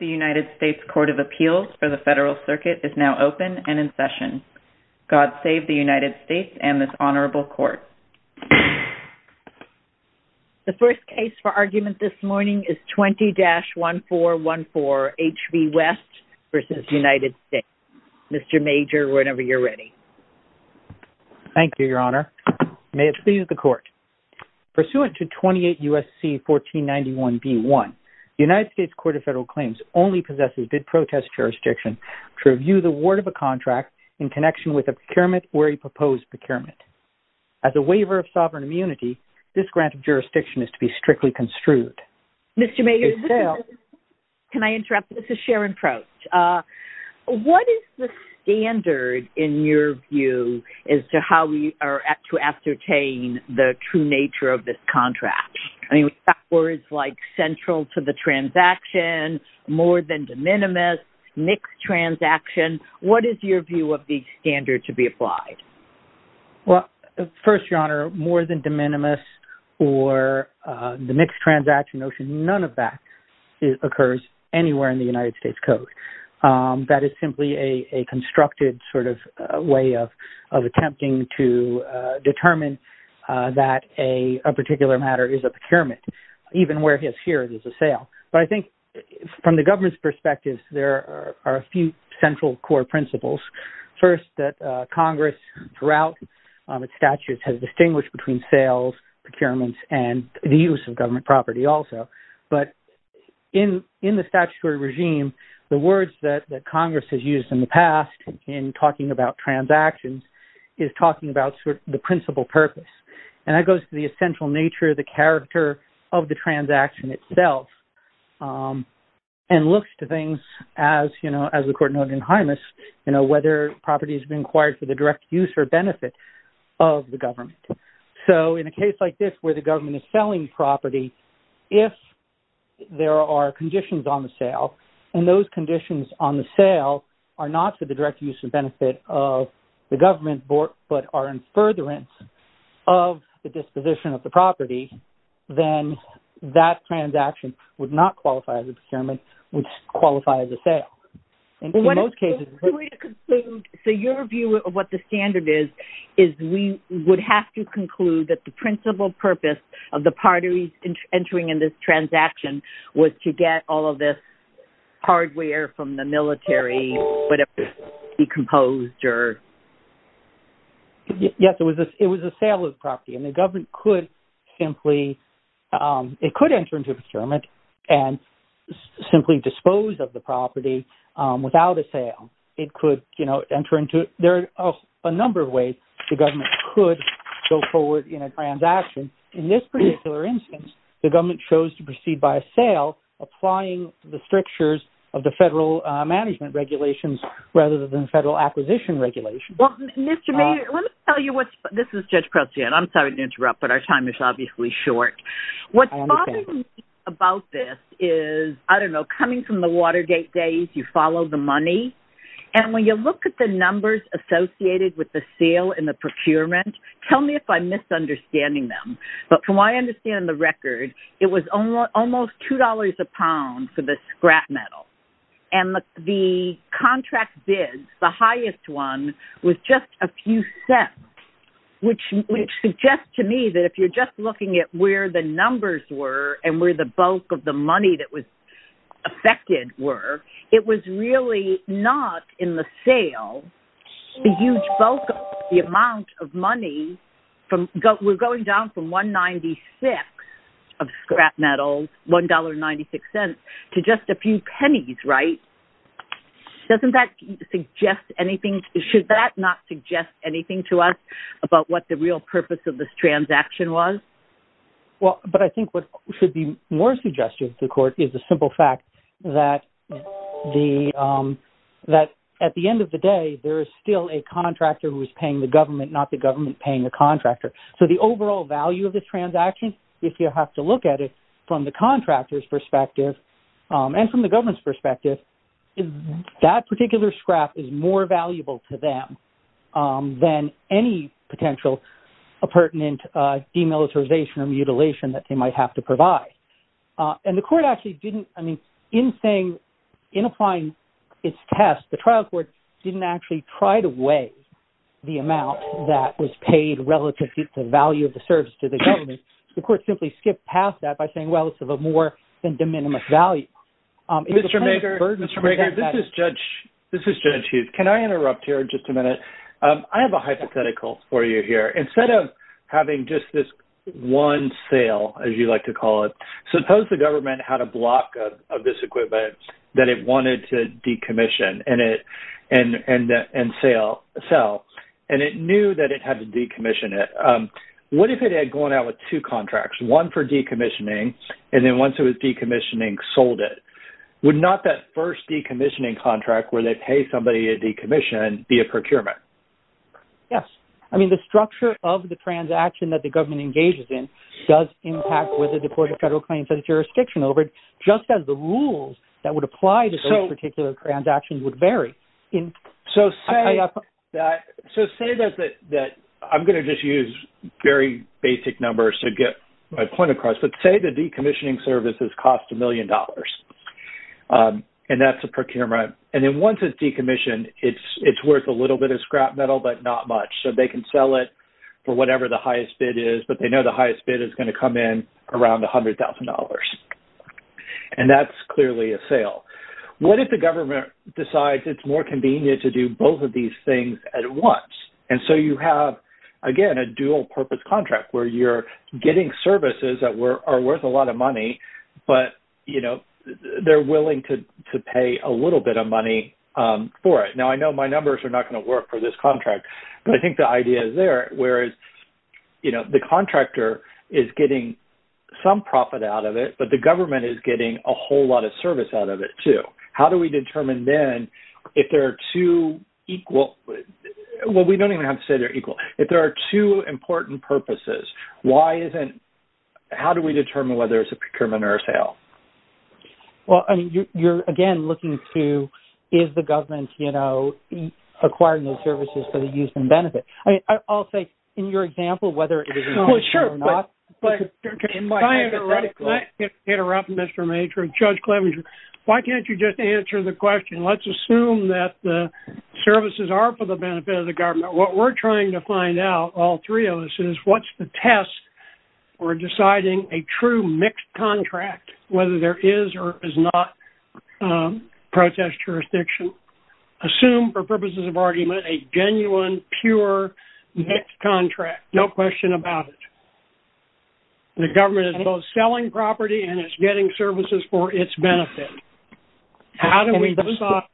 The United States Court of Appeals for the Federal Circuit is now open and in session. God save the United States and this Honorable Court. The first case for argument this morning is 20-1414 HV West v. United States. Mr. Major, whenever you're ready. Thank you, Your Honor. May it please the Court. Pursuant to 28 U.S.C. 1491b1, the United States Court of Federal Claims only possesses bid protest jurisdiction to review the word of a contract in connection with a procurement or a proposed procurement. As a waiver of sovereign immunity, this grant of jurisdiction is to be strictly construed. Mr. Major, this is Sharon Prost. What is the standard, in your view, as to how we are to ascertain the true nature of this contract? I mean, that word is like central to the transaction, more than de minimis, mixed transaction. What is your view of the standard to be applied? Well, first, Your Honor, more than de minimis or the mixed transaction, none of that occurs anywhere in the United States Code. That is simply a constructed sort of way of attempting to determine that a particular matter is a procurement, even where it is here, it is a sale. But I think from the government's perspective, there are a few central core principles. First, that Congress, throughout its statutes, has distinguished between sales, procurements, and the use of government property also. But in the statutory regime, the words that Congress has used in the past in talking about transactions is talking about the principal purpose. And that goes to the essential nature, the character of the transaction itself, and looks to things as, you know, as the court noted in Hymus, you know, whether property has been acquired for the direct use or benefit of the government. So in a case like this, where the government is selling property, if there are conditions on the sale, and those conditions on the sale are not for the direct use and benefit of the government, but are in furtherance of the disposition of the property, then that transaction would not qualify as a procurement, would qualify as a sale. And in most cases... So your view of what the standard is, is we would have to conclude that the principal purpose of the parties entering in this transaction was to get all of this hardware from the military, whatever it was, decomposed, or... Yes, it was a sale of property. And the government could simply, it could enter into procurement and simply dispose of the property without a sale. It could, you know, enter into... There are a number of ways the government could go forward in a transaction. In this particular instance, the government chose to proceed by a sale, applying the strictures of the federal management regulations, rather than the federal acquisition regulations. Well, Mr. Maynard, let me tell you what's... This is Judge Prociet. I'm sorry to interrupt, but our time is obviously short. What's bothering me about this is, I don't know, coming from the Watergate days, you have to follow the money. And when you look at the numbers associated with the sale and the procurement, tell me if I'm misunderstanding them. But from what I understand in the record, it was almost $2 a pound for the scrap metal. And the contract bid, the highest one, was just a few cents, which suggests to me that if you're just looking at where the numbers were and where the bulk of the money that affected were, it was really not in the sale. The huge bulk of the amount of money from... We're going down from $1.96 of scrap metals, $1.96, to just a few pennies, right? Doesn't that suggest anything? Should that not suggest anything to us about what the real purpose of this transaction was? Well, but I think what should be more suggestive to the court is the simple fact that at the end of the day, there is still a contractor who is paying the government, not the government paying the contractor. So the overall value of the transaction, if you have to look at it from the contractor's perspective and from the government's perspective, that particular scrap is more valuable to them than any potential pertinent demilitarization or mutilation that they might have to provide. And the court actually didn't... I mean, in saying... In applying its test, the trial court didn't actually try to weigh the amount that was paid relative to the value of the service to the government. The court simply skipped past that by saying, well, it's of a more than de minimis value. Mr. Mager, this is Judge Huth. Can I interrupt here just a minute? I have a hypothetical for you here. Instead of having just this one sale, as you like to call it, suppose the government had a block of this equipment that it wanted to decommission and sell, and it knew that it had to decommission it. What if it had gone out with two contracts, one for decommissioning, and then once it was decommissioning, sold it? Would not that first decommissioning contract where they pay somebody a decommission be a procurement? Yes. I mean, the structure of the transaction that the government engages in does impact whether the court of federal claims has jurisdiction over it, just as the rules that would apply to those particular transactions would vary. So say that I'm going to just use very basic numbers to get my point across, but say the decommissioning services cost $1 million. And that's a procurement. And then once it's decommissioned, it's worth a little bit of scrap metal, but not much. So they can sell it for whatever the highest bid is, but they know the highest bid is going to come in around $100,000. And that's clearly a sale. What if the government decides it's more convenient to do both of these things at once? And so you have, again, a dual-purpose contract where you're getting services that are worth a lot of money, but they're willing to pay a little bit of money for it. Now, I know my numbers are not going to work for this contract, but I think the idea is there, whereas the contractor is getting some profit out of it, but the government is getting a whole lot of service out of it too. How do we determine then if there are two equal... Well, we don't even have to say they're equal. If there are two important purposes, how do we determine whether it's a procurement or a sale? Well, I mean, you're, again, looking to, is the government acquiring those services for the use and benefit? I mean, I'll say, in your example, whether it is... Well, sure, but can I interrupt, Mr. Major and Judge Clevenger? Why can't you just answer the question? Let's assume that the services are for the benefit of the government. What we're trying to find out, all three of us, is what's the test for deciding a true mixed contract, whether there is or is not protest jurisdiction? Assume, for purposes of argument, a genuine, pure, mixed contract, no question about it. The government is both selling property and it's getting services for its benefit. How do we decide?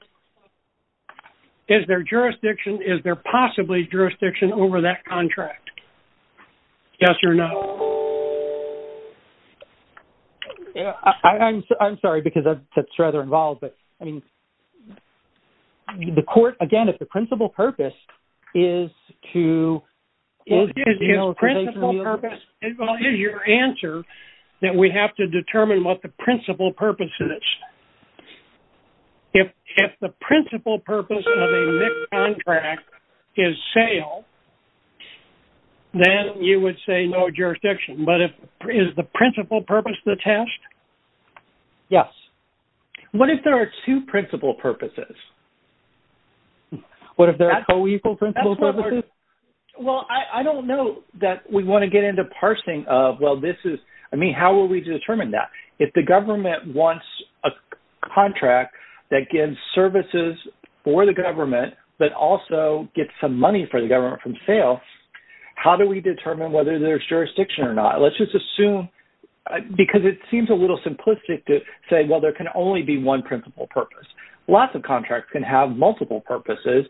Is there jurisdiction? Is there possibly jurisdiction over that contract? Yes or no? I'm sorry, because that's rather involved. But, I mean, the court, again, if the principal purpose is to... Well, is your answer that we have to determine what the principal purpose is? If the principal purpose of a mixed contract is sale, then you would say no jurisdiction. But is the principal purpose the test? Yes. What if there are two principal purposes? What if there are co-equal principal purposes? Well, I don't know that we want to get into parsing of, well, this is... I mean, how will we determine that? If the government wants a contract that gives services for the government, but also gets some money for the government from sales, how do we determine whether there's jurisdiction or not? Let's just assume, because it seems a little simplistic to say, well, there can only be one principal purpose. Lots of contracts can have multiple purposes.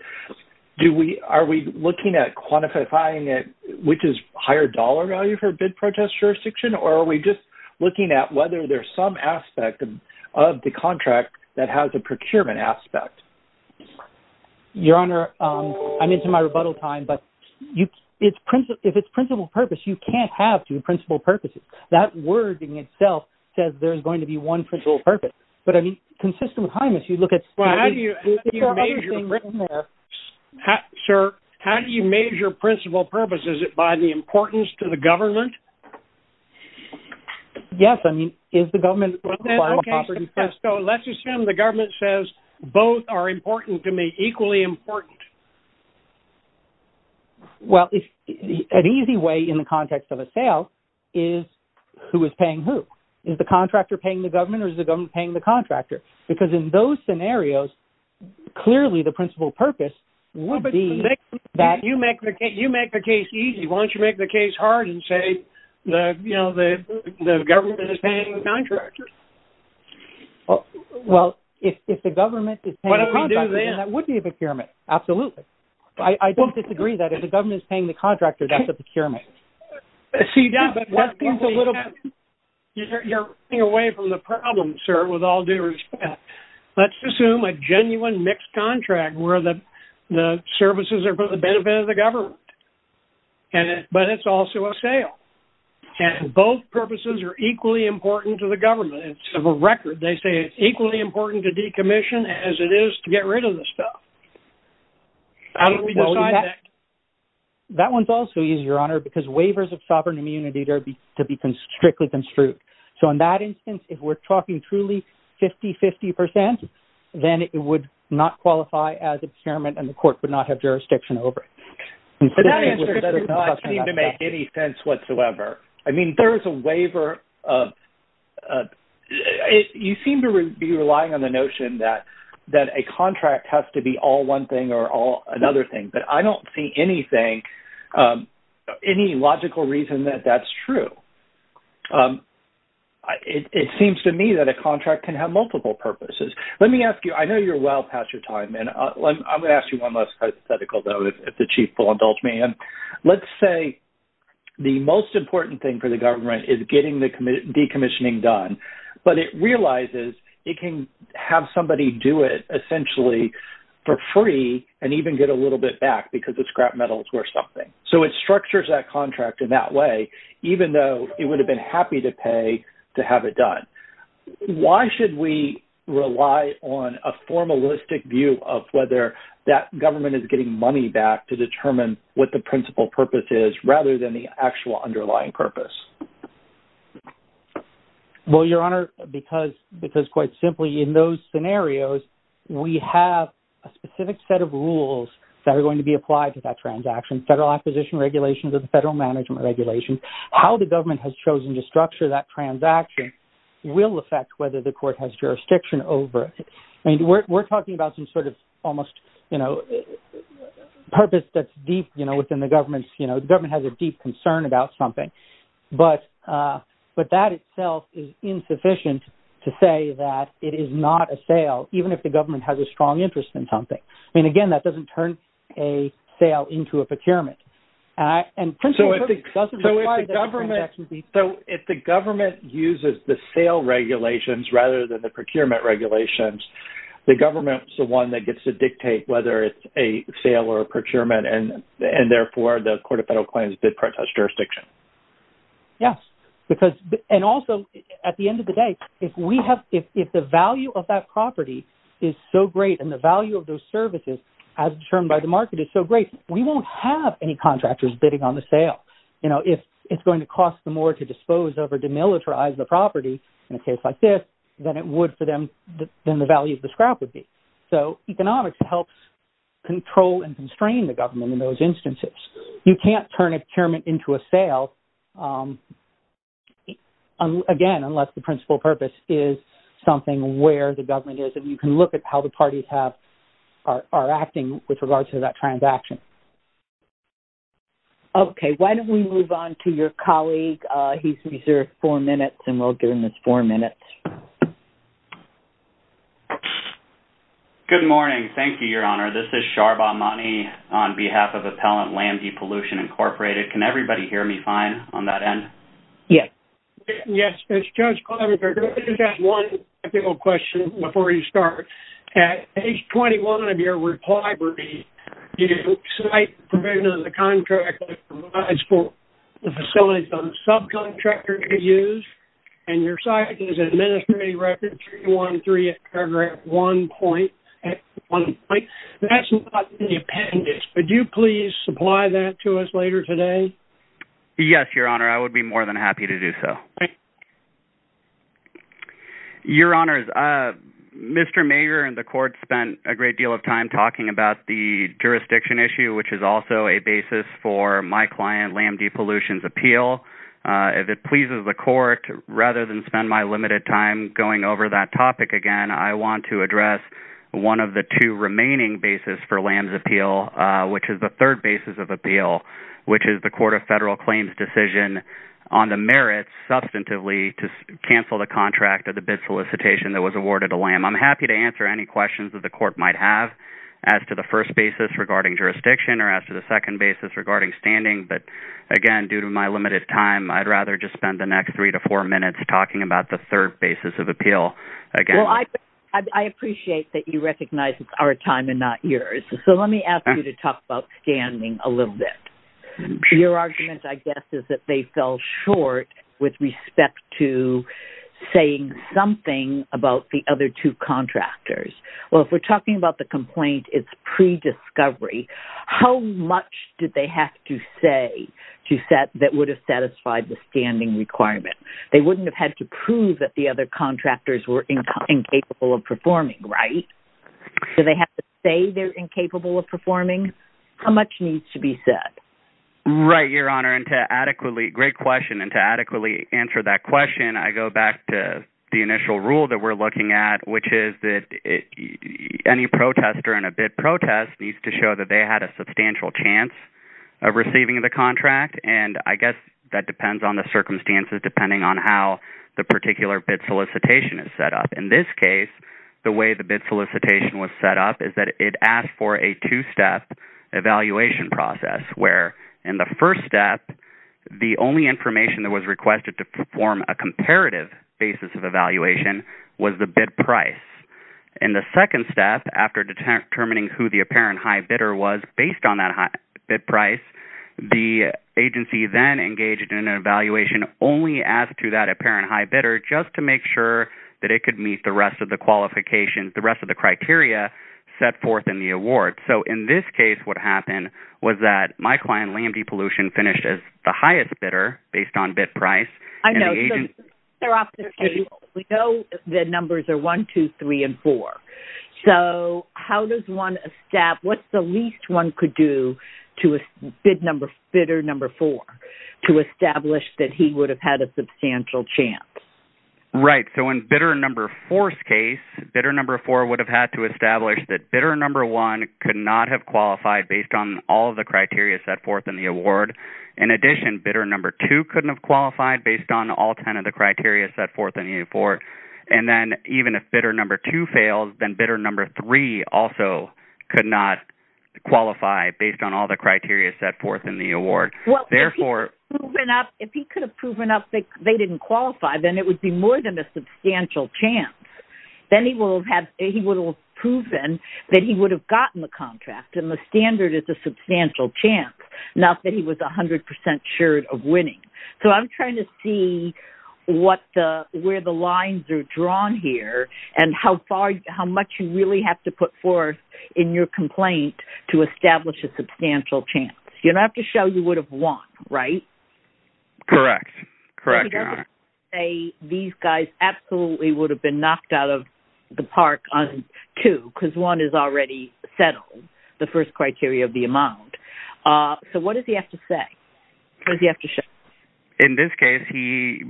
Are we looking at quantifying it, which is higher dollar value for bid protest jurisdiction? Or are we just looking at whether there's some aspect of the contract that has a procurement aspect? Your Honor, I'm into my rebuttal time, but if it's principal purpose, you can't have two principal purposes. That wording itself says there's going to be one principal purpose. But, I mean, consistent with Hymus, you look at... Well, how do you measure principal purpose? Is it by the importance to the government? Yes. I mean, is the government... Okay, so let's assume the government says both are important to me, equally important. Well, an easy way in the context of a sale is who is paying who? Is the contractor paying the government, or is the government paying the contractor? Because in those scenarios, clearly the principal purpose would be that... You make the case easy. Why don't you make the case hard and say the government is paying the contractor? Well, if the government is paying the contractor, then that would be a procurement. Absolutely. I don't disagree that if the government is paying the contractor, that's a procurement. See, you're running away from the problem, sir, with all due respect. Let's assume a genuine mixed contract where the services are for the benefit of the government. But it's also a sale. And both purposes are equally important to the government. It's a record. They say it's equally important to decommission as it is to get rid of the stuff. How do we decide that? That one's also easier, Your Honor, because waivers of sovereign immunity are to be strictly construed. So in that instance, if we're talking truly 50-50%, then it would not qualify as a procurement and the court would not have jurisdiction over it. That answer does not seem to make any sense whatsoever. I mean, there is a waiver. You seem to be relying on the notion that a contract has to be all one thing or all another thing. But I don't see anything, any logical reason that that's true. It seems to me that a contract can have multiple purposes. Let me ask you. I know you're well past your time. I'm going to ask you one last hypothetical, though, if the Chief will indulge me. Let's say the most important thing for the government is getting the decommissioning done. But it realizes it can have somebody do it essentially for free and even get a little bit back because the scrap metal is worth something. So it structures that contract in that way, even though it would have been happy to pay to have it done. Why should we rely on a formalistic view of whether that government is getting money back to determine what the principal purpose is rather than the actual underlying purpose? Well, Your Honor, because quite simply in those scenarios, we have a specific set of rules that are going to be applied to that transaction, federal acquisition regulations or the federal management regulations, how the government has chosen to structure that will affect whether the court has jurisdiction over it. I mean, we're talking about some sort of almost, you know, purpose that's deep, you know, within the government. You know, the government has a deep concern about something, but that itself is insufficient to say that it is not a sale, even if the government has a strong interest in something. I mean, again, that doesn't turn a sale into a procurement. And so if the government uses the sale regulations rather than the procurement regulations, the government is the one that gets to dictate whether it's a sale or a procurement. And therefore, the Court of Federal Claims did protest jurisdiction. Yes, because and also at the end of the day, if the value of that property is so great and the value of those services as determined by the market is so great, we won't have any contractors bidding on the sale. You know, if it's going to cost them more to dispose of or demilitarize the property in a case like this, then it would for them, then the value of the scrap would be. So economics helps control and constrain the government in those instances. You can't turn a procurement into a sale, again, unless the principal purpose is something where the government is and you can look at how the parties have, are acting with regards to that transaction. Okay. Why don't we move on to your colleague? He's reserved four minutes and we'll give him his four minutes. Good morning. Thank you, Your Honor. This is Sharbha Mani on behalf of Appellant Land Depollution Incorporated. Can everybody hear me fine on that end? Yes. Yes. It's Judge Klobuchar. Let me just ask one technical question before you start. At page 21 of your reply brief, you cite provision of the contract provides for the facilities on subcontractors to use, and your site is administrative record 313, paragraph one point, at one point. That's not in the appendix. Would you please supply that to us later today? Yes, Your Honor. I would be more than happy to do so. Your Honor, Mr. Mayer and the court spent a great deal of time talking about the jurisdiction issue, which is also a basis for my client, Lamb Depollution's appeal. If it pleases the court, rather than spend my limited time going over that topic again, I want to address one of the two remaining basis for Lamb's appeal, which is the third to cancel the contract of the bid solicitation that was awarded to Lamb. I'm happy to answer any questions that the court might have as to the first basis regarding jurisdiction or as to the second basis regarding standing. But again, due to my limited time, I'd rather just spend the next three to four minutes talking about the third basis of appeal again. Well, I appreciate that you recognize it's our time and not yours. So let me ask you to talk about standing a little bit. Your argument, I guess, is that they fell short with respect to saying something about the other two contractors. Well, if we're talking about the complaint, it's pre-discovery. How much did they have to say to set that would have satisfied the standing requirement? They wouldn't have had to prove that the other contractors were incapable of performing, right? Do they have to say they're incapable of performing? How much needs to be said? Right, Your Honor. And to adequately... Great question. And to adequately answer that question, I go back to the initial rule that we're looking at, which is that any protester in a bid protest needs to show that they had a substantial chance of receiving the contract. And I guess that depends on the circumstances, depending on how the particular bid solicitation is set up. In this case, the way the bid solicitation was set up is that it asked for a two-step evaluation process, where in the first step, the only information that was requested to perform a comparative basis of evaluation was the bid price. In the second step, after determining who the apparent high bidder was based on that high bid price, the agency then engaged in an evaluation only as to that apparent high bid price, the rest of the qualifications, the rest of the criteria set forth in the award. So, in this case, what happened was that my client, Liam D. Pollution, finished as the highest bidder based on bid price. I know, so they're off the table. We know the numbers are 1, 2, 3, and 4. So, how does one establish... What's the least one could do to bid number... Bidder number 4 to establish that he would have had a substantial chance? Right. So, in bidder number 4's case, bidder number 4 would have had to establish that bidder number 1 could not have qualified based on all of the criteria set forth in the award. In addition, bidder number 2 couldn't have qualified based on all 10 of the criteria set forth in the award. And then, even if bidder number 2 failed, then bidder number 3 also could not qualify based on all the criteria set forth in the award. Well, if he could have proven up that they didn't qualify, then it would be more than a substantial chance. Then he would have proven that he would have gotten the contract, and the standard is a substantial chance, not that he was 100% sure of winning. So, I'm trying to see where the lines are drawn here and how much you really have to put forth in your complaint to establish a substantial chance. You don't have to show you would have won, right? Correct, correct. Say these guys absolutely would have been knocked out of the park on two, because one has already settled the first criteria of the amount. So, what does he have to say? What does he have to show? In this case, he,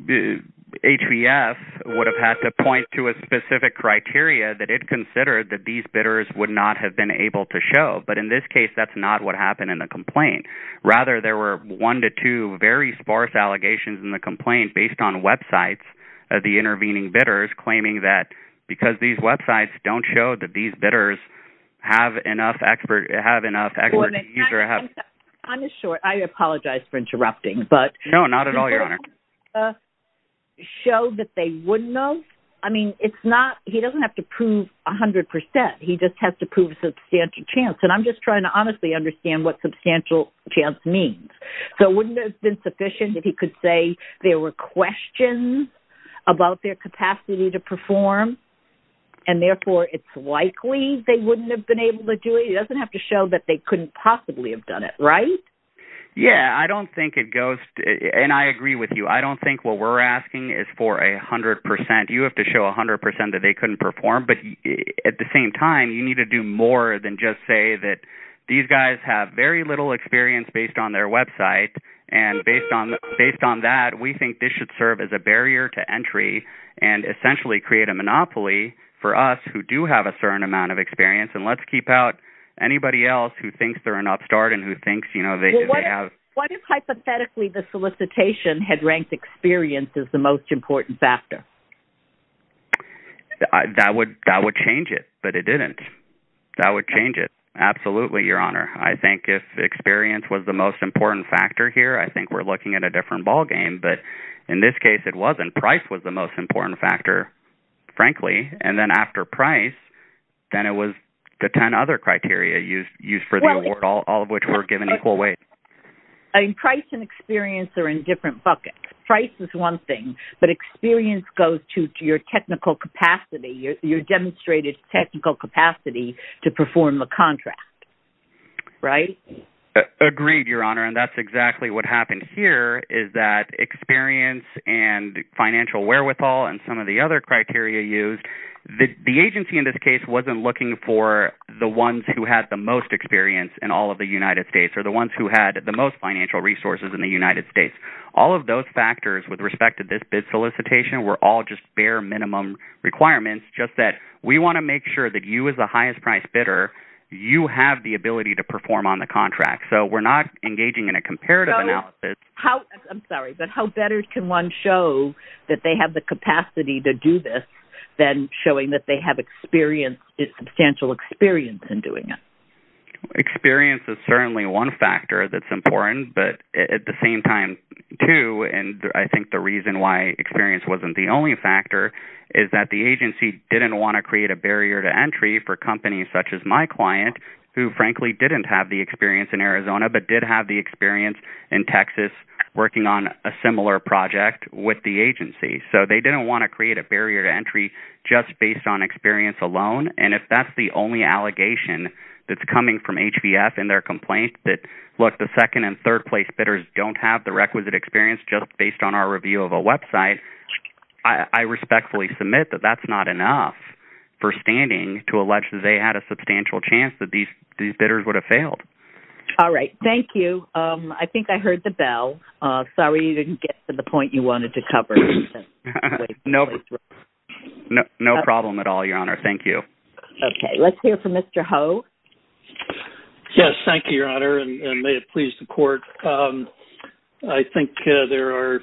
HBF, would have had to point to a specific criteria that it considered that these bidders would not have been able to show. But in this case, that's not what happened in the complaint. Rather, there were one to two very sparse allegations in the complaint based on websites of the intervening bidders claiming that, because these websites don't show that these bidders have enough expertise or have- I'm sure. I apologize for interrupting, but- No, not at all, Your Honor. Show that they wouldn't know? I mean, it's not, he doesn't have to prove 100%. He just has to prove substantial chance. I'm just trying to honestly understand what substantial chance means. So, wouldn't it have been sufficient if he could say there were questions about their capacity to perform? And therefore, it's likely they wouldn't have been able to do it? He doesn't have to show that they couldn't possibly have done it, right? Yeah, I don't think it goes- and I agree with you. I don't think what we're asking is for 100%. You have to show 100% that they couldn't perform. At the same time, you need to do more than just say that these guys have very little experience based on their website, and based on that, we think this should serve as a barrier to entry and essentially create a monopoly for us who do have a certain amount of experience. And let's keep out anybody else who thinks they're an upstart and who thinks they have- What if, hypothetically, the solicitation had ranked experience as the most important factor? That would change it, but it didn't. That would change it. Absolutely, Your Honor. I think if experience was the most important factor here, I think we're looking at a different ballgame, but in this case, it wasn't. Price was the most important factor, frankly. And then after price, then it was the 10 other criteria used for the award, all of which were given equal weight. Price and experience are in different buckets. Price is one thing, but experience goes to your technical capacity, your demonstrated technical capacity to perform a contract, right? Agreed, Your Honor, and that's exactly what happened here is that experience and financial wherewithal and some of the other criteria used, the agency in this case wasn't looking for the ones who had the most experience in all of the United States or the ones who had the most financial resources in the United States. All of those factors with respect to this bid solicitation were all just bare minimum requirements, just that we want to make sure that you as the highest price bidder, you have the ability to perform on the contract. So, we're not engaging in a comparative analysis. So, I'm sorry, but how better can one show that they have the capacity to do this than showing that they have substantial experience in doing it? Experience is certainly one factor that's important, but at the same time too, and I think the reason why experience wasn't the only factor is that the agency didn't want to create a barrier to entry for companies such as my client, who frankly didn't have the experience in Arizona, but did have the experience in Texas working on a similar project with the agency. So, they didn't want to create a barrier to entry just based on experience alone. And if that's the only allegation that's coming from HVF in their complaint that, look, the second and third place bidders don't have the requisite experience just based on our review of a website, I respectfully submit that that's not enough for standing to allege that they had a substantial chance that these bidders would have failed. All right. Thank you. I think I heard the bell. Sorry, you didn't get to the point you wanted to cover. No problem at all, Your Honor. Thank you. Okay. Let's hear from Mr. Ho. Thank you, Your Honor, and may it please the court. I think there are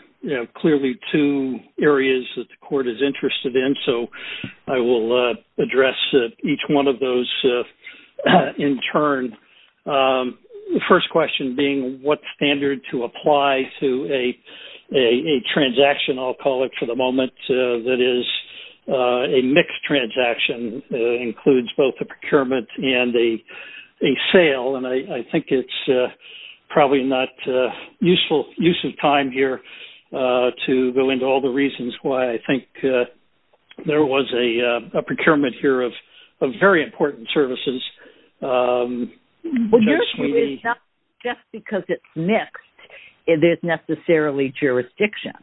clearly two areas that the court is interested in, so I will address each one of those in turn. The first question being what standard to apply to a transaction, I'll call it for the both a procurement and a sale. And I think it's probably not useful use of time here to go into all the reasons why I think there was a procurement here of very important services. Well, yours is not just because it's mixed. It is necessarily jurisdiction.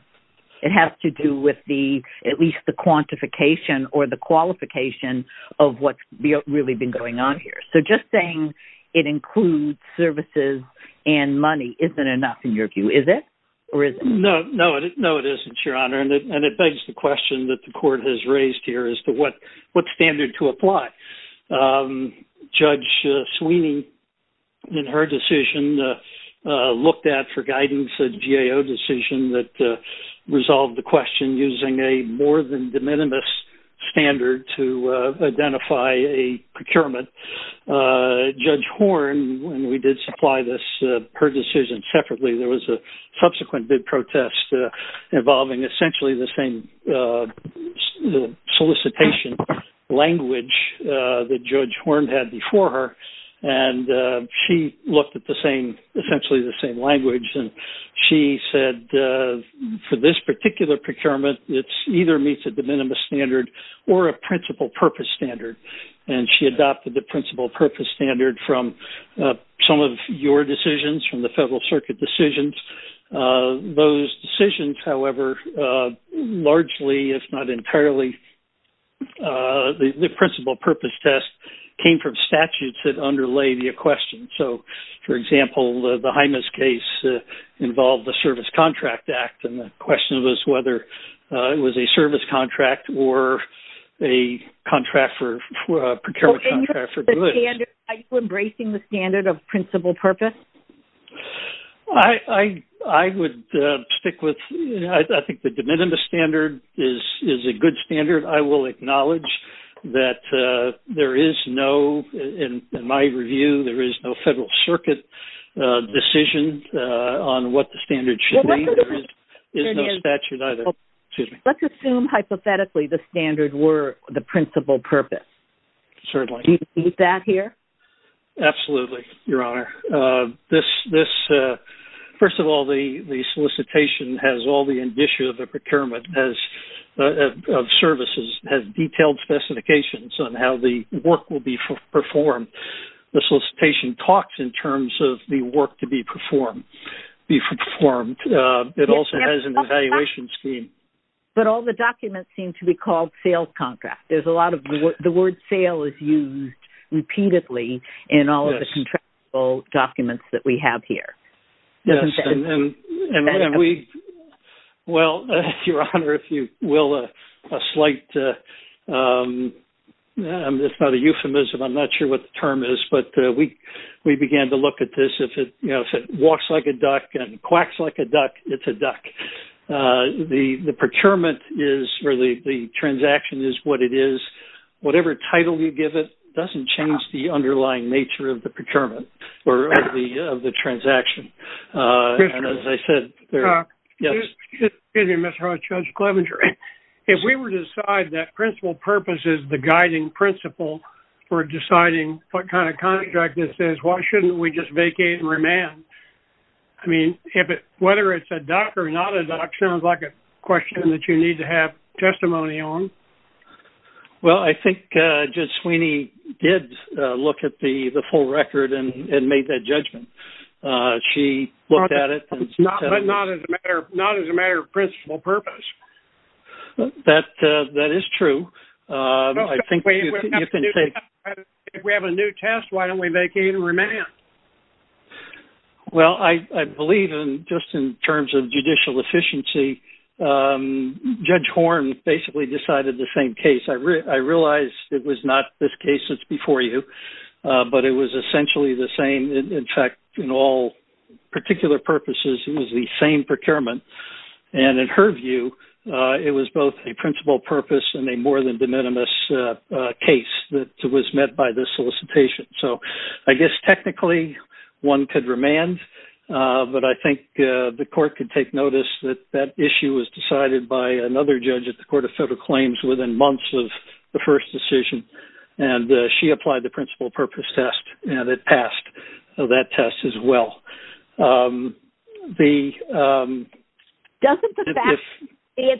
It has to do with at least the quantification or the qualification of what's really been going on here. So just saying it includes services and money isn't enough in your view, is it? Or is it? No, it isn't, Your Honor, and it begs the question that the court has raised here as to what standard to apply. Judge Sweeney in her decision looked at for guidance a GAO decision that resolved the question using a more than de minimis standard to identify a procurement. Judge Horne, when we did supply this per decision separately, there was a subsequent bid protest involving essentially the same solicitation language that Judge Horne had before her. And she looked at the same, essentially the same language. And she said, for this particular procurement, it either meets a de minimis standard or a principal purpose standard. And she adopted the principal purpose standard from some of your decisions, from the Federal Circuit decisions. Those decisions, however, largely, if not entirely, the principal purpose test came from statutes that underlay the question. So, for example, the Hymas case involved the Service Contract Act. And the question was whether it was a service contract or a procurement contract for goods. Are you embracing the standard of principal purpose? I would stick with, I think the de minimis standard is a good standard. I will acknowledge that there is no, in my review, there is no Federal Circuit decision on what the standard should be. There is no statute either. Excuse me. Let's assume, hypothetically, the standard were the principal purpose. Certainly. Do you see that here? Absolutely, Your Honor. This, first of all, the solicitation has all the indicia of the procurement of services, has detailed specifications on how the work will be performed. The solicitation talks in terms of the work to be performed. It also has an evaluation scheme. But all the documents seem to be called sales contracts. There is a lot of, the word sale is used repeatedly in all of the contractual documents that we have here. Well, Your Honor, if you will, a slight, it's not a euphemism, I'm not sure what the term is, but we began to look at this, if it walks like a duck and quacks like a duck, it's a duck. The procurement is, or the transaction is what it is. Whatever title you give it doesn't change the underlying nature of the procurement or of the transaction. And as I said, there, yes. Excuse me, Mr. Hodge. Judge Clevenger, if we were to decide that principal purpose is the guiding principle for deciding what kind of contract this is, why shouldn't we just vacate and remand? I mean, if it, whether it's a duck or not a duck sounds like a question that you need to have testimony on. Well, I think Judge Sweeney did look at the full record and made that judgment. She looked at it and said- But not as a matter of principal purpose. That is true. I think you can take- If we have a new test, why don't we vacate and remand? Well, I believe in, just in terms of judicial efficiency, Judge Horn basically decided the same case. I realized it was not this case that's before you, but it was essentially the same. In fact, in all particular purposes, it was the same procurement. And in her view, it was both a principal purpose and a more than de minimis case that was met by this solicitation. So I guess technically one could remand, but I think the court could take notice that that issue was decided by another judge at the Court of Federal Claims within months of the first decision. And she applied the principal purpose test and it passed. So that test as well. Doesn't the fact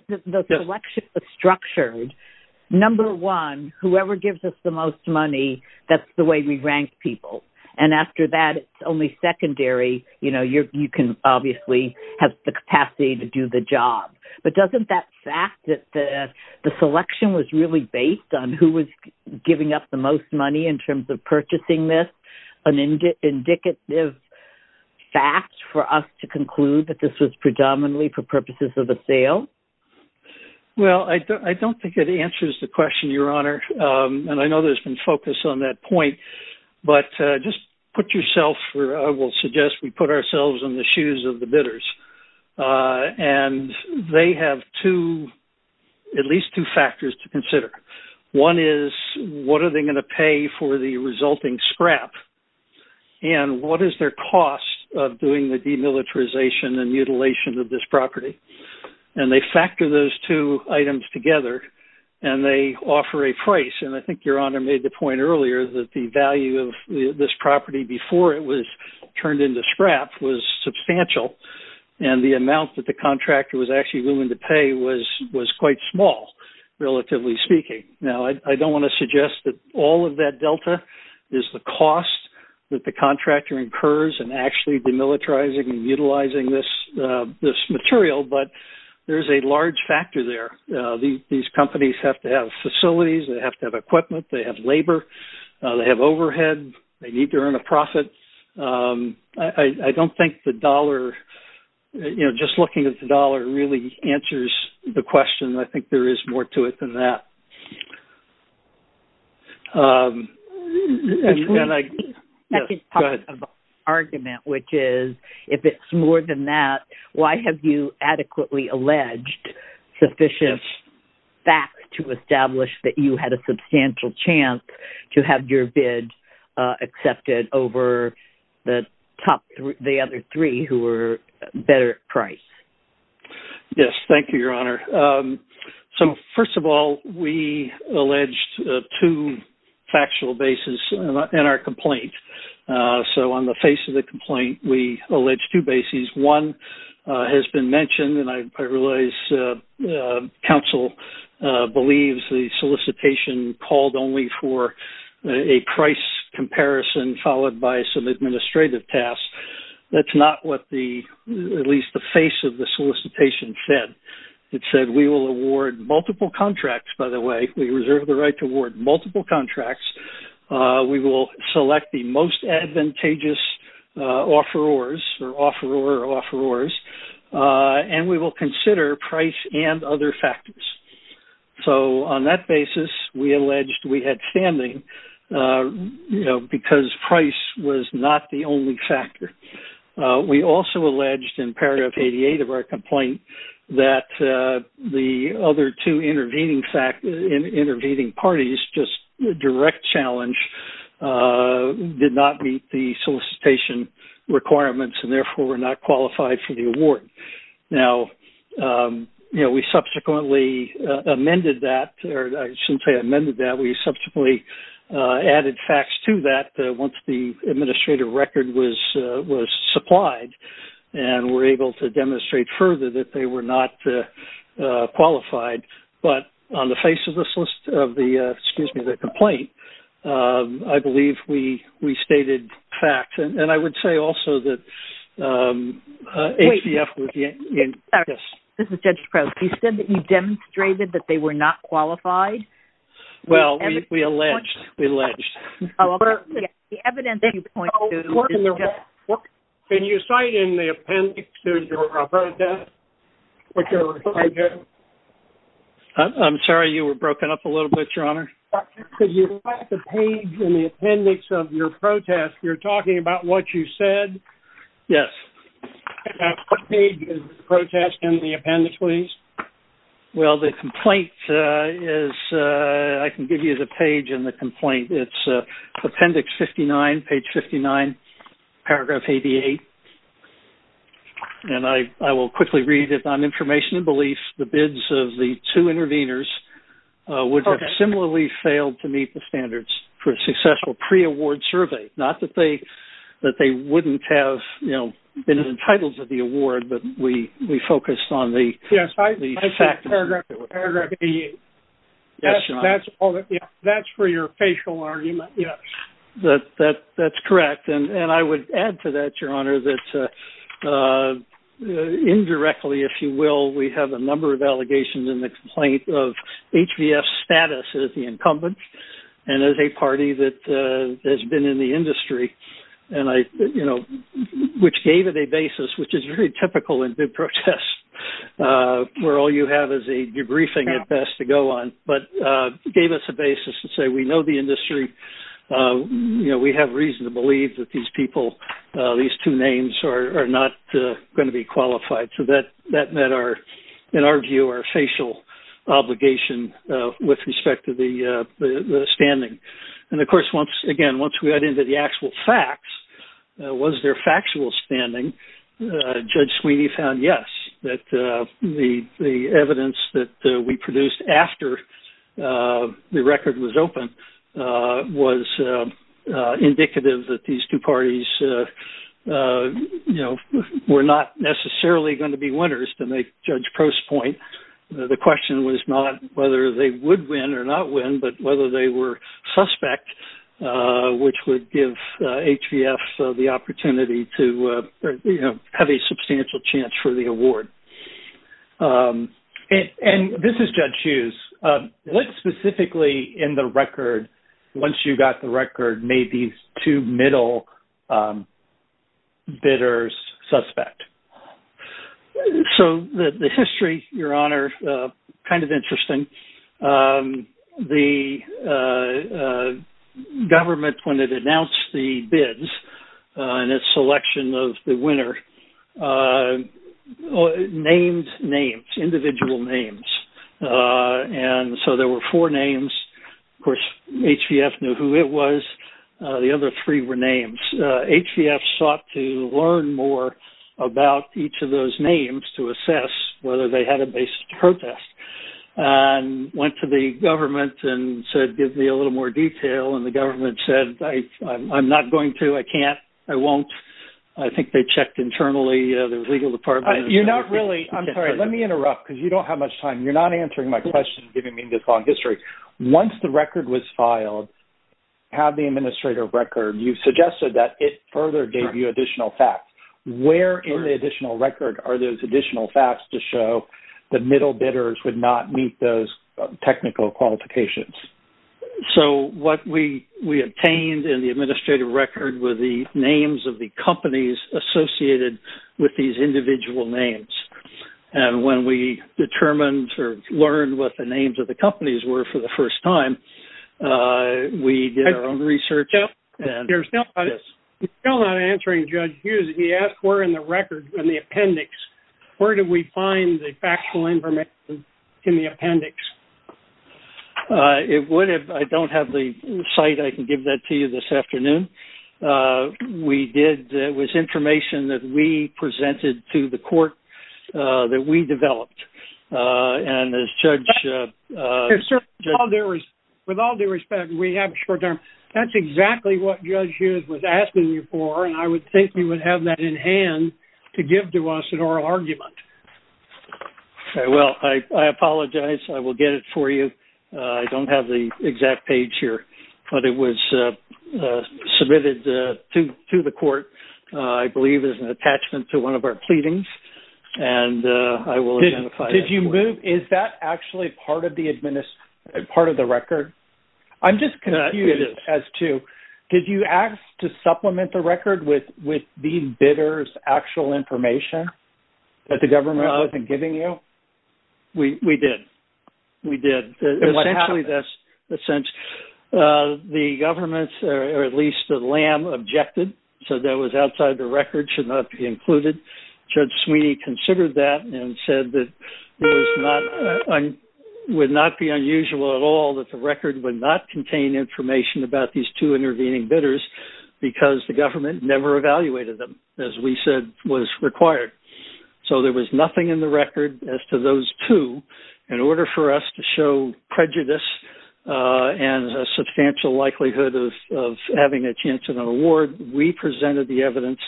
that the selection is structured, number one, whoever gives us the most money, that's the way we rank people. And after that, it's only secondary. You can obviously have the capacity to do the job. But doesn't that fact that the selection was really based on who was giving up the most money in terms of purchasing this, an indicative fact for us to conclude that this was predominantly for purposes of the sale? Well, I don't think it answers the question, Your Honor. And I know there's been focus on that point. But just put yourself, I will suggest we put ourselves in the shoes of the bidders. And they have at least two factors to consider. One is, what are they going to pay for the resulting scrap? And what is their cost of doing the demilitarization and mutilation of this property? And they factor those two items together and they offer a price. And I think Your Honor made the point earlier that the value of this property before it was turned into scrap was substantial. And the amount that the contractor was actually willing to pay was quite small, relatively speaking. Now, I don't want to suggest that all of that delta is the cost that the contractor incurs in actually demilitarizing and utilizing this material. But there's a large factor there. These companies have to have facilities. They have to have equipment. They have labor. They have overhead. They need to earn a profit. I don't think the dollar, you know, just looking at the dollar really answers the question. I think there is more to it than that. And I... I can talk about the argument, which is, if it's more than that, why have you adequately alleged sufficient facts to establish that you had a substantial chance to have your bid accepted over the other three who were better priced? Thank you, Your Honor. So, first of all, we alleged two factual bases in our complaint. So, on the face of the complaint, we allege two bases. One has been mentioned, and I realize counsel believes the solicitation called only for a price comparison followed by some administrative tasks. That's not what the, at least the face of the solicitation said. It said, we will award multiple contracts, by the way. We reserve the right to award multiple contracts. We will select the most advantageous offerors or offeror or offerors, and we will consider price and other factors. So, on that basis, we alleged we had standing, you know, because price was not the only factor. We also alleged in paragraph 88 of our complaint that the other two intervening parties just direct challenge did not meet the solicitation requirements, and therefore, were not qualified for the award. Now, you know, we subsequently amended that, or I shouldn't say amended that. We subsequently added facts to that once the administrative record was supplied, and were able to demonstrate further that they were not qualified. But on the face of this list of the, excuse me, the complaint, I believe we stated facts, and I would say also that HBF was. This is Judge Crouch. He said that you demonstrated that they were not qualified. Well, we alleged. Can you cite in the appendix to your death? I'm sorry. You were broken up a little bit, Your Honor. Could you cite the page in the appendix of your protest? You're talking about what you said? Yes. And what page is the protest in the appendix, please? Well, the complaint is, I can give you the page in the complaint. It's appendix 59, page 59, paragraph 88, and I will quickly read it. On information and belief, the bids of the two intervenors would have similarly failed to meet the standards for a successful pre-award survey. Not that they wouldn't have, you know, been entitled to the award, but we focused on the- Yes, I think paragraph 88, that's for your facial argument, yes. That's correct, and I would add to that, Your Honor, that indirectly, if you will, we have a number of allegations in the complaint of HVS status as the incumbent and as a party that has been in the industry, which gave it a basis, which is very typical in bid protests, where all you have is a debriefing, at best, to go on, but gave us a basis to say, we know the industry, we have reason to believe that these people, these two names are not going to be qualified. So that met our, in our view, our facial obligation with respect to the standing. And of course, once again, once we got into the actual facts, was there factual standing? Judge Sweeney found yes, that the evidence that we produced after the record was open was indicative that these two parties were not necessarily going to be winners, to make Judge Prost's point. The question was not whether they would win or not win, but whether they were suspect, which would give HVS the opportunity to have a substantial chance for the award. And this is Judge Hughes, what specifically in the record, once you got the record, made these two middle bidders suspect? So the history, Your Honor, kind of interesting. The government, when it announced the bids and its selection of the winner, named names, individual names. And so there were four names. Of course, HVS knew who it was. The other three were names. HVS sought to learn more about each of those names to assess whether they had a basis to protest. And went to the government and said, give me a little more detail. And the government said, I'm not going to, I can't, I won't. I think they checked internally, the legal department. You're not really, I'm sorry, let me interrupt because you don't have much time. You're not answering my question, giving me this long history. Once the record was filed, have the administrative record, you've suggested that it further gave you additional facts. Where in the additional record are those additional facts to show the middle bidders would not meet those technical qualifications? So what we obtained in the administrative record were the names of the companies associated with these individual names. And when we determined or learned what the names of the companies were for the first time, we did our own research. Yeah, there's no, you're still not answering Judge Hughes. He asked where in the record, in the appendix, where did we find the factual information in the appendix? It would have, I don't have the site. I can give that to you this afternoon. We did, it was information that we presented to the court that we developed. And as Judge- With all due respect, we have a short term. That's exactly what Judge Hughes was asking you for. And I would think you would have that in hand to give to us an oral argument. Well, I apologize. I will get it for you. I don't have the exact page here. But it was submitted to the court, I believe, as an attachment to one of our pleadings. And I will identify- Did you move? Is that actually part of the record? I'm just confused as to, did you ask to supplement the record with the bidder's actual information that the government wasn't giving you? We did. We did. And what happened? That's the sense. The government, or at least the LAM, objected. So that was outside the record, should not be included. Judge Sweeney considered that and said that it would not be unusual at all that the record would not contain information about these two intervening bidders because the government never evaluated them, as we said was required. So there was nothing in the record as to those two. In order for us to show prejudice and a substantial likelihood of having a chance at an award, we presented the evidence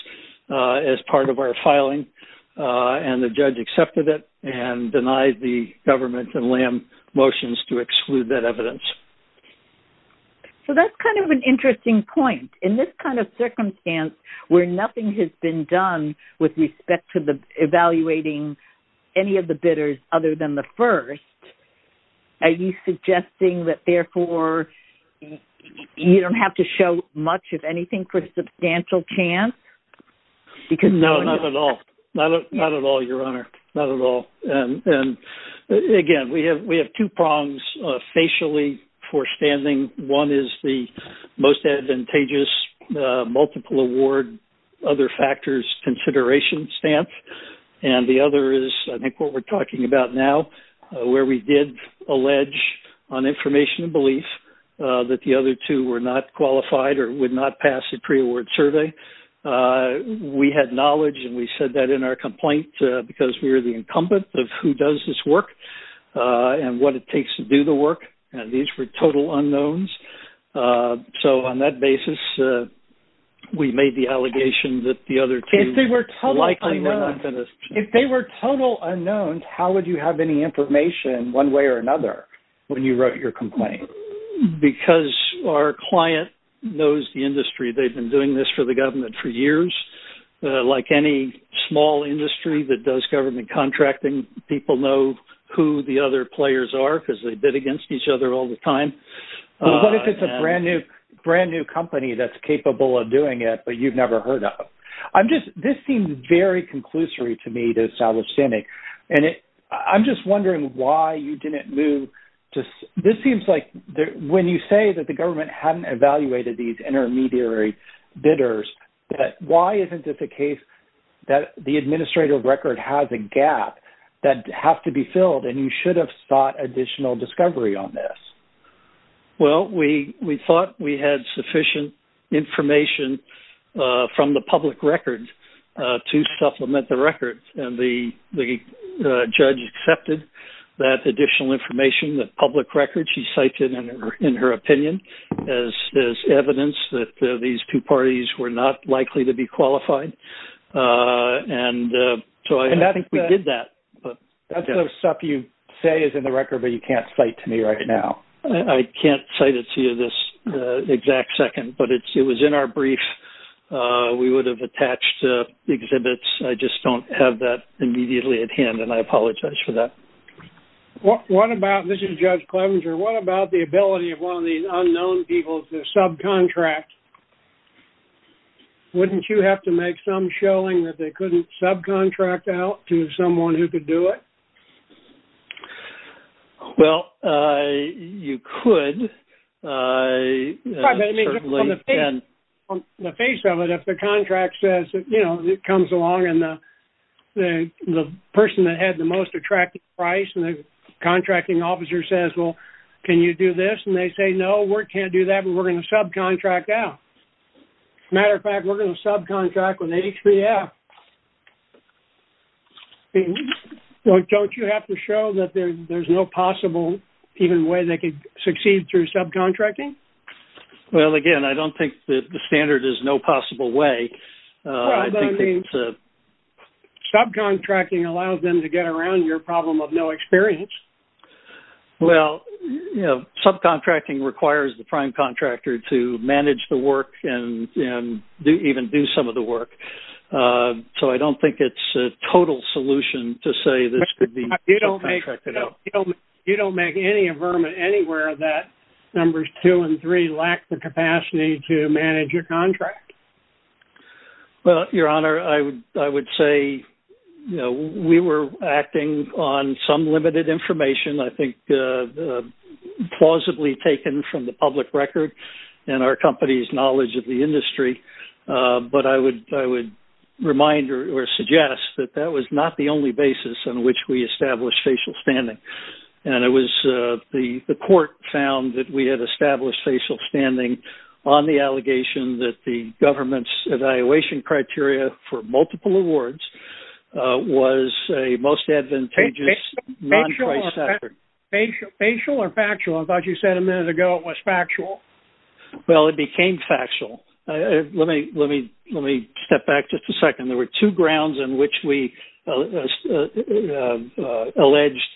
as part of our filing. And the judge accepted it and denied the government and LAM motions to exclude that evidence. So that's kind of an interesting point. In this kind of circumstance, where nothing has been done with respect to evaluating any of the bidders other than the first, are you suggesting that, therefore, you don't have to show much, if anything, for a substantial chance? No, not at all. Not at all, Your Honor. Not at all. Again, we have two prongs, facially, for standing. One is the most advantageous multiple award, other factors, consideration stance. And the other is, I think, what we're talking about now, where we did allege on information and belief that the other two were not qualified or would not pass a pre-award survey. We had knowledge, and we said that in our complaint, because we were the incumbent of who does this work and what it takes to do the work. These were total unknowns. So on that basis, we made the allegation that the other two likely were not. If they were total unknowns, how would you have any information, one way or another, when you wrote your complaint? Because our client knows the industry. They've been doing this for the government for years. Like any small industry that does government contracting, people know who the other players are, because they bid against each other all the time. What if it's a brand new company that's capable of doing it, but you've never heard of? This seems very conclusory to me to establish standing. And I'm just wondering why you didn't move to... This seems like when you say that the government hadn't evaluated these intermediary bidders, that why isn't it the case that the administrative record has a gap that has to be filled, and you should have sought additional discovery on this? Well, we thought we had sufficient information from the public record to supplement the record. And the judge accepted that additional information, the public record she cited in her opinion, as evidence that these two parties were not likely to be qualified. And so I think we did that. That's the stuff you say is in the record, but you can't cite to me right now. I can't cite it to you this exact second, but it was in our brief. We would have attached exhibits. I just don't have that immediately at hand, and I apologize for that. What about... This is Judge Clevenger. What about the ability of one of these unknown people to subcontract? Wouldn't you have to make some showing that they couldn't subcontract out to someone who could do it? Well, you could, certainly, and... Right, but I mean, just from the face of it, if the contract says, you know, it comes along, and the person that had the most attractive price and the contracting officer says, well, can you do this? And they say, no, we can't do that, but we're going to subcontract out. As a matter of fact, we're going to subcontract with HPF. Well, don't you have to show that there's no possible even way they could succeed through subcontracting? Well, again, I don't think that the standard is no possible way. Right, but I mean, subcontracting allows them to get around your problem of no experience. Well, you know, subcontracting requires the prime contractor to manage the work and even do some of the work. So, I don't think it's a total solution to say this could be subcontracted out. You don't make any avertment anywhere that numbers two and three lack the capacity to manage your contract? Well, Your Honor, I would say, you know, we were acting on some limited information, I think, plausibly taken from the public record and our company's knowledge of the industry. But I would remind or suggest that that was not the only basis on which we established facial standing. And it was the court found that we had established facial standing on the allegation that the government's evaluation criteria for multiple awards was a most advantageous non-price standard. Facial or factual? I thought you said a minute ago it was factual. Well, it became factual. Let me step back just a second. There were two grounds in which we alleged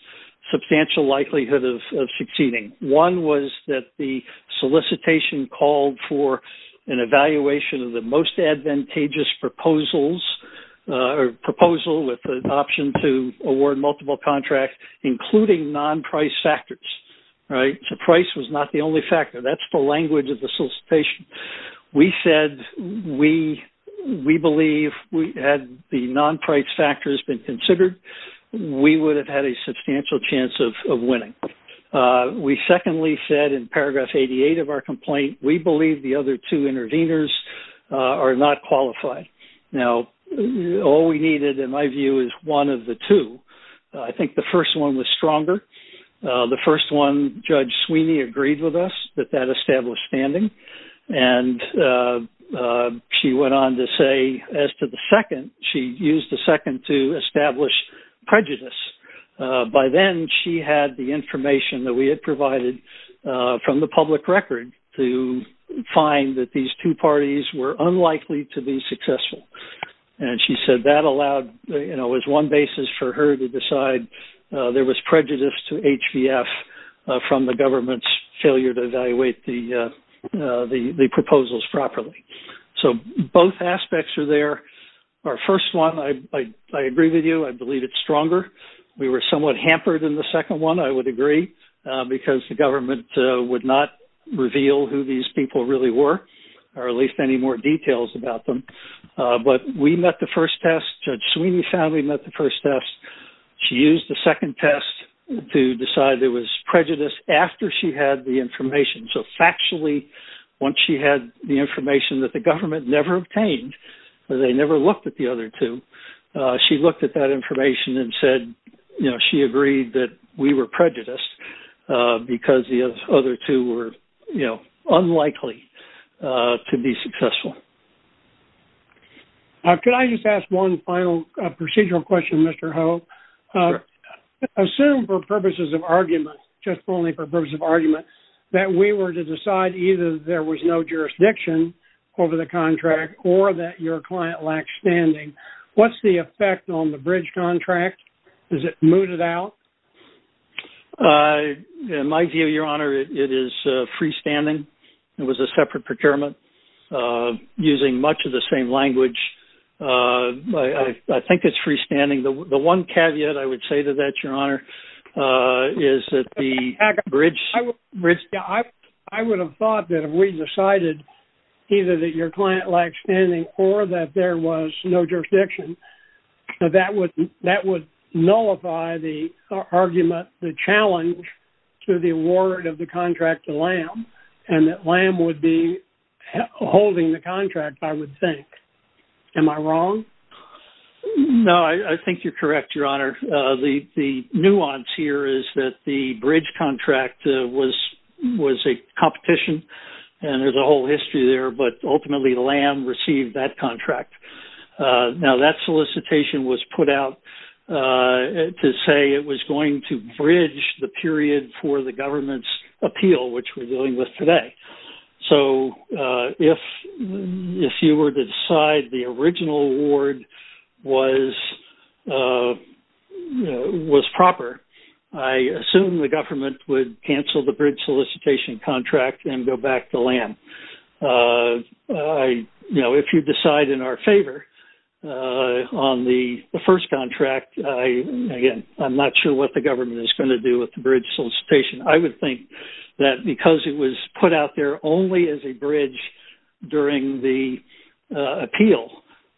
substantial likelihood of succeeding. One was that the solicitation called for an evaluation of the most advantageous proposals or proposal with an option to award multiple contracts, including non-price factors, right? So, price was not the only factor. That's the language of the solicitation. We said we believe, had the non-price factors been considered, we would have had a substantial chance of winning. We secondly said in paragraph 88 of our complaint, we believe the other two interveners are not qualified. Now, all we needed, in my view, is one of the two. I think the first one was stronger. The first one, Judge Sweeney agreed with us that that established standing. And she went on to say, as to the second, she used the second to establish prejudice. By then, she had the information that we had provided from the public record to find that these two parties were unlikely to be successful. And she said that allowed, you know, as one basis for her to decide there was prejudice to HVF from the government's failure to evaluate the proposals properly. So, both aspects are there. Our first one, I agree with you. I believe it's stronger. We were somewhat hampered in the second one, I would agree, because the government would not reveal who these people really were, or at least any more details about them. But we met the first test. Judge Sweeney found we met the first test. She used the second test to decide there was prejudice after she had the information. So, factually, once she had the information that the government never obtained, or they never looked at the other two, she looked at that information and said, you know, she agreed that we were prejudiced because the other two were, you know, unlikely to be successful. Could I just ask one final procedural question, Mr. Ho? Assume for purposes of argument, just only for purpose of argument, that we were to decide either there was no jurisdiction over the contract or that your client lacked standing. What's the effect on the bridge contract? Is it mooted out? In my view, Your Honor, it is freestanding. It was a separate procurement. Using much of the same language, I think it's freestanding. The one caveat I would say to that, Your Honor, is that the bridge... I would have thought that if we decided either that your client lacked standing or that there was no jurisdiction, that would nullify the argument, the challenge to the award of the contract to LAM, and that LAM would be holding the contract, I would think. Am I wrong? No, I think you're correct, Your Honor. The nuance here is that the bridge contract was a competition, and there's a whole history there, but ultimately LAM received that contract. Now, that solicitation was put out to say it was going to bridge the period for the government's appeal, which we're dealing with today. So, if you were to decide the original award was proper, I assume the government would cancel the bridge solicitation contract and go back to LAM. If you decide in our favor on the first contract, again, I'm not sure what the government is going to do with the bridge solicitation. I would think that because it was put out there only as a bridge during the appeal,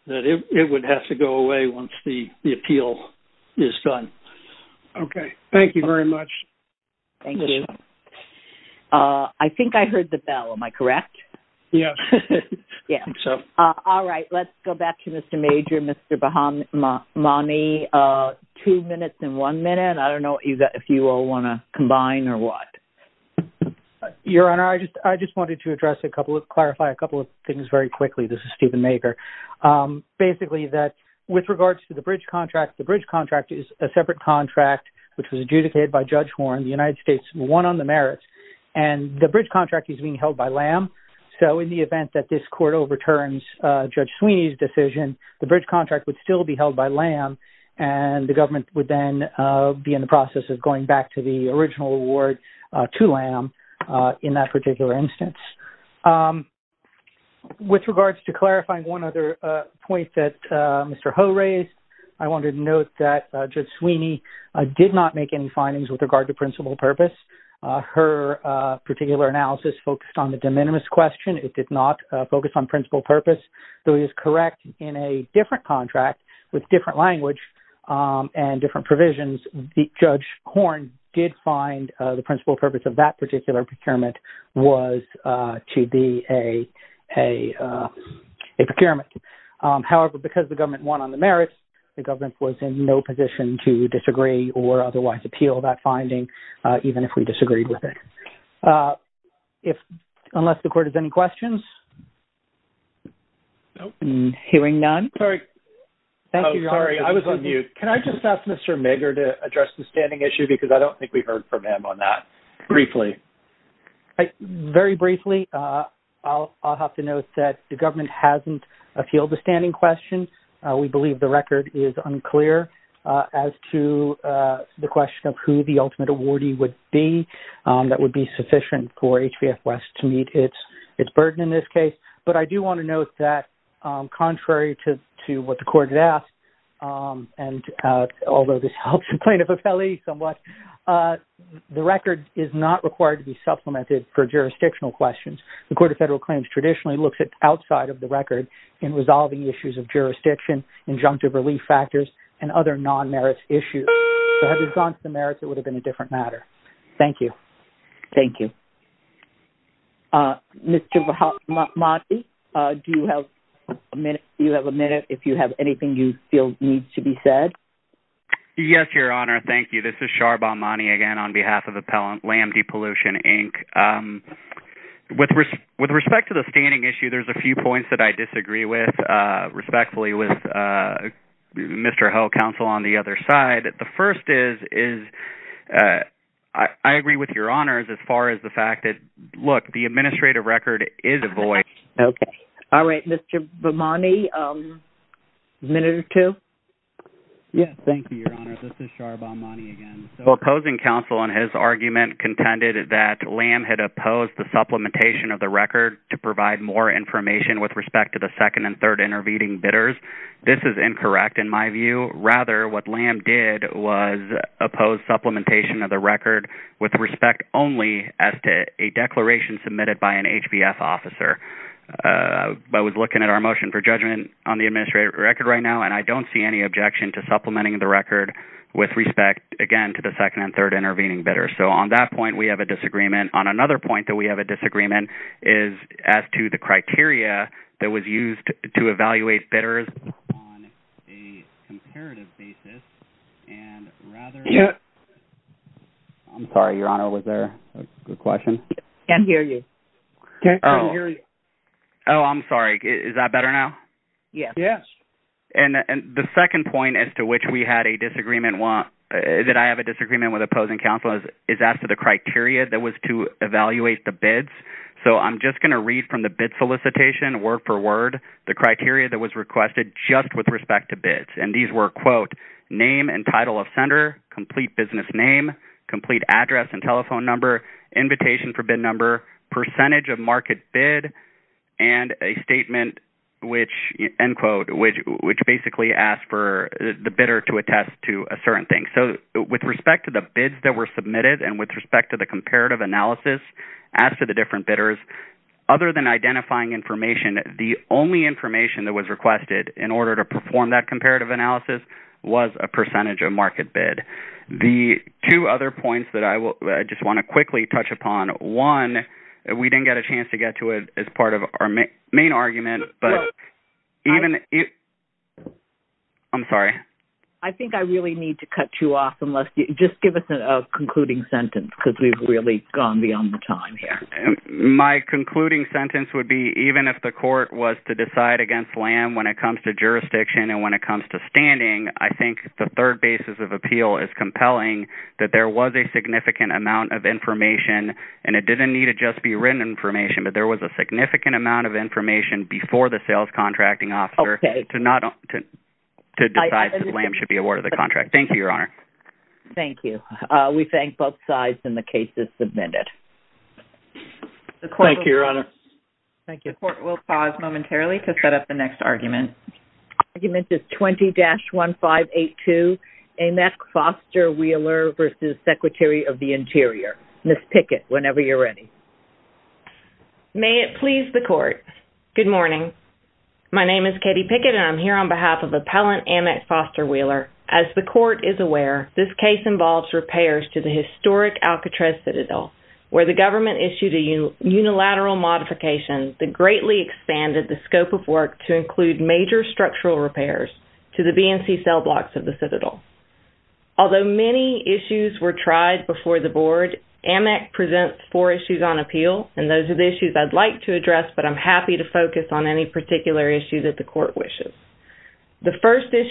that it would have to go away once the appeal is done. Okay. Thank you very much. Thank you. I think I heard the bell. Am I correct? Yes. Yeah. All right. Let's go back to Mr. Major, Mr. Bahamani. Two minutes and one minute. I don't know if you all want to combine or what. Your Honor, I just wanted to clarify a couple of things very quickly. This is Steven Maker. Basically, with regards to the bridge contract, the bridge contract is a separate contract, which was adjudicated by Judge Horne, the United States won on the merits, and the bridge contract is being held by LAM. So, in the event that this court overturns Judge Sweeney's decision, the bridge contract would still be held by LAM, and the government would then be in the process of going back to the original award to LAM in that particular instance. With regards to clarifying one other point that Mr. Ho raised, I wanted to note that Judge Sweeney did not make any findings with regard to principal purpose. Her particular analysis focused on the de minimis question. It did not focus on principal purpose, though it is correct in a different contract with different language and different provisions, Judge Horne did find the principal purpose of that particular procurement was to be a procurement. However, because the government won on the merits, the government was in no position to disagree or otherwise appeal that finding, even if we disagreed with it. If-unless the court has any questions? No. I'm hearing none. Sorry. Thank you, Your Honor. I was on mute. Can I just ask Mr. Megger to address the standing issue? Because I don't think we heard from him on that. Briefly. Very briefly, I'll have to note that the government hasn't appealed the standing question. We believe the record is unclear as to the question of who the ultimate awardee would be. That would be sufficient for HBF West to meet its burden in this case. But I do want to note that contrary to what the court has asked, and although this helps plaintiff affiliate somewhat, the record is not required to be supplemented for jurisdictional questions. The Court of Federal Claims traditionally looks at outside of the record in resolving issues of jurisdiction, injunctive relief factors, and other non-merits issues. So had we gone to the merits, it would have been a different matter. Thank you. Thank you. Mr. Bahamati, do you have a minute? If you have anything you feel needs to be said? Yes, Your Honor. Thank you. This is Shar Bahamati again on behalf of LAMDPollution, Inc. With respect to the standing issue, there's a few points that I disagree with, respectfully, with Mr. Hill Counsel on the other side. The first is, I agree with Your Honor as far as the fact that, look, the administrative record is a voice. Okay. All right. Mr. Bahamati, a minute or two? Yes. Thank you, Your Honor. This is Shar Bahamati again. Opposing counsel in his argument contended that LAM had opposed the supplementation of the record to provide more information with respect to the second and third intervening bidders. This is incorrect in my view. Rather, what LAM did was oppose supplementation of the record with respect only as to a declaration submitted by an HBF officer. I was looking at our motion for judgment on the administrative record right now, and I don't see any objection to supplementing the record with respect, again, to the second and third intervening bidders. So on that point, we have a disagreement. On another point that we have a disagreement is as to the criteria that was used to evaluate bidders. On a comparative basis, and rather... I'm sorry, Your Honor. Was there a good question? Can't hear you. Oh, I'm sorry. Is that better now? Yes. Yes. And the second point as to which we had a disagreement, that I have a disagreement with opposing counsel, is as to the criteria that was to evaluate the bids. So I'm just going to read from the bid solicitation word for word the criteria that was requested just with respect to bids. And these were, quote, name and title of sender, complete business name, complete address and telephone number, invitation for bid number, percentage of market bid, and a statement which, end quote, which basically asked for the bidder to attest to a certain thing. So with respect to the bids that were submitted and with respect to the comparative analysis as to the different bidders, other than identifying information, the only information that was requested in order to perform that comparative analysis was a percentage of market bid. The two other points that I just want to quickly touch upon, one, we didn't get a chance to get to it as part of our main argument, but even... I'm sorry. I think I really need to cut you off unless... Just give us a concluding sentence because we've really gone beyond the time here. My concluding sentence would be, even if the court was to decide against LAM when it comes to jurisdiction and when it comes to standing, I think the third basis of appeal is compelling that there was a significant amount of information and it didn't need to just be written information, but there was a significant amount of information before the sales contracting officer to decide that LAM should be awarded the contract. Thank you, Your Honor. Thank you. We thank both sides and the cases submitted. Thank you, Your Honor. Thank you. The court will pause momentarily to set up the next argument. Argument is 20-1582, Annex Foster Wheeler versus Secretary of the Interior. Ms. Pickett, whenever you're ready. May it please the court. Good morning. My name is Katie Pickett and I'm here on behalf of Appellant Annex Foster Wheeler. As the court is aware, this case involves repairs to the historic Alcatraz Citadel where the government issued a unilateral modification that greatly expanded the scope of work to include major structural repairs to the BNC cell blocks of the Citadel. Although many issues were tried before the board, Amec presents four issues on appeal, and those are the issues I'd like to address, but I'm happy to focus on any particular issue that the court wishes. The first issue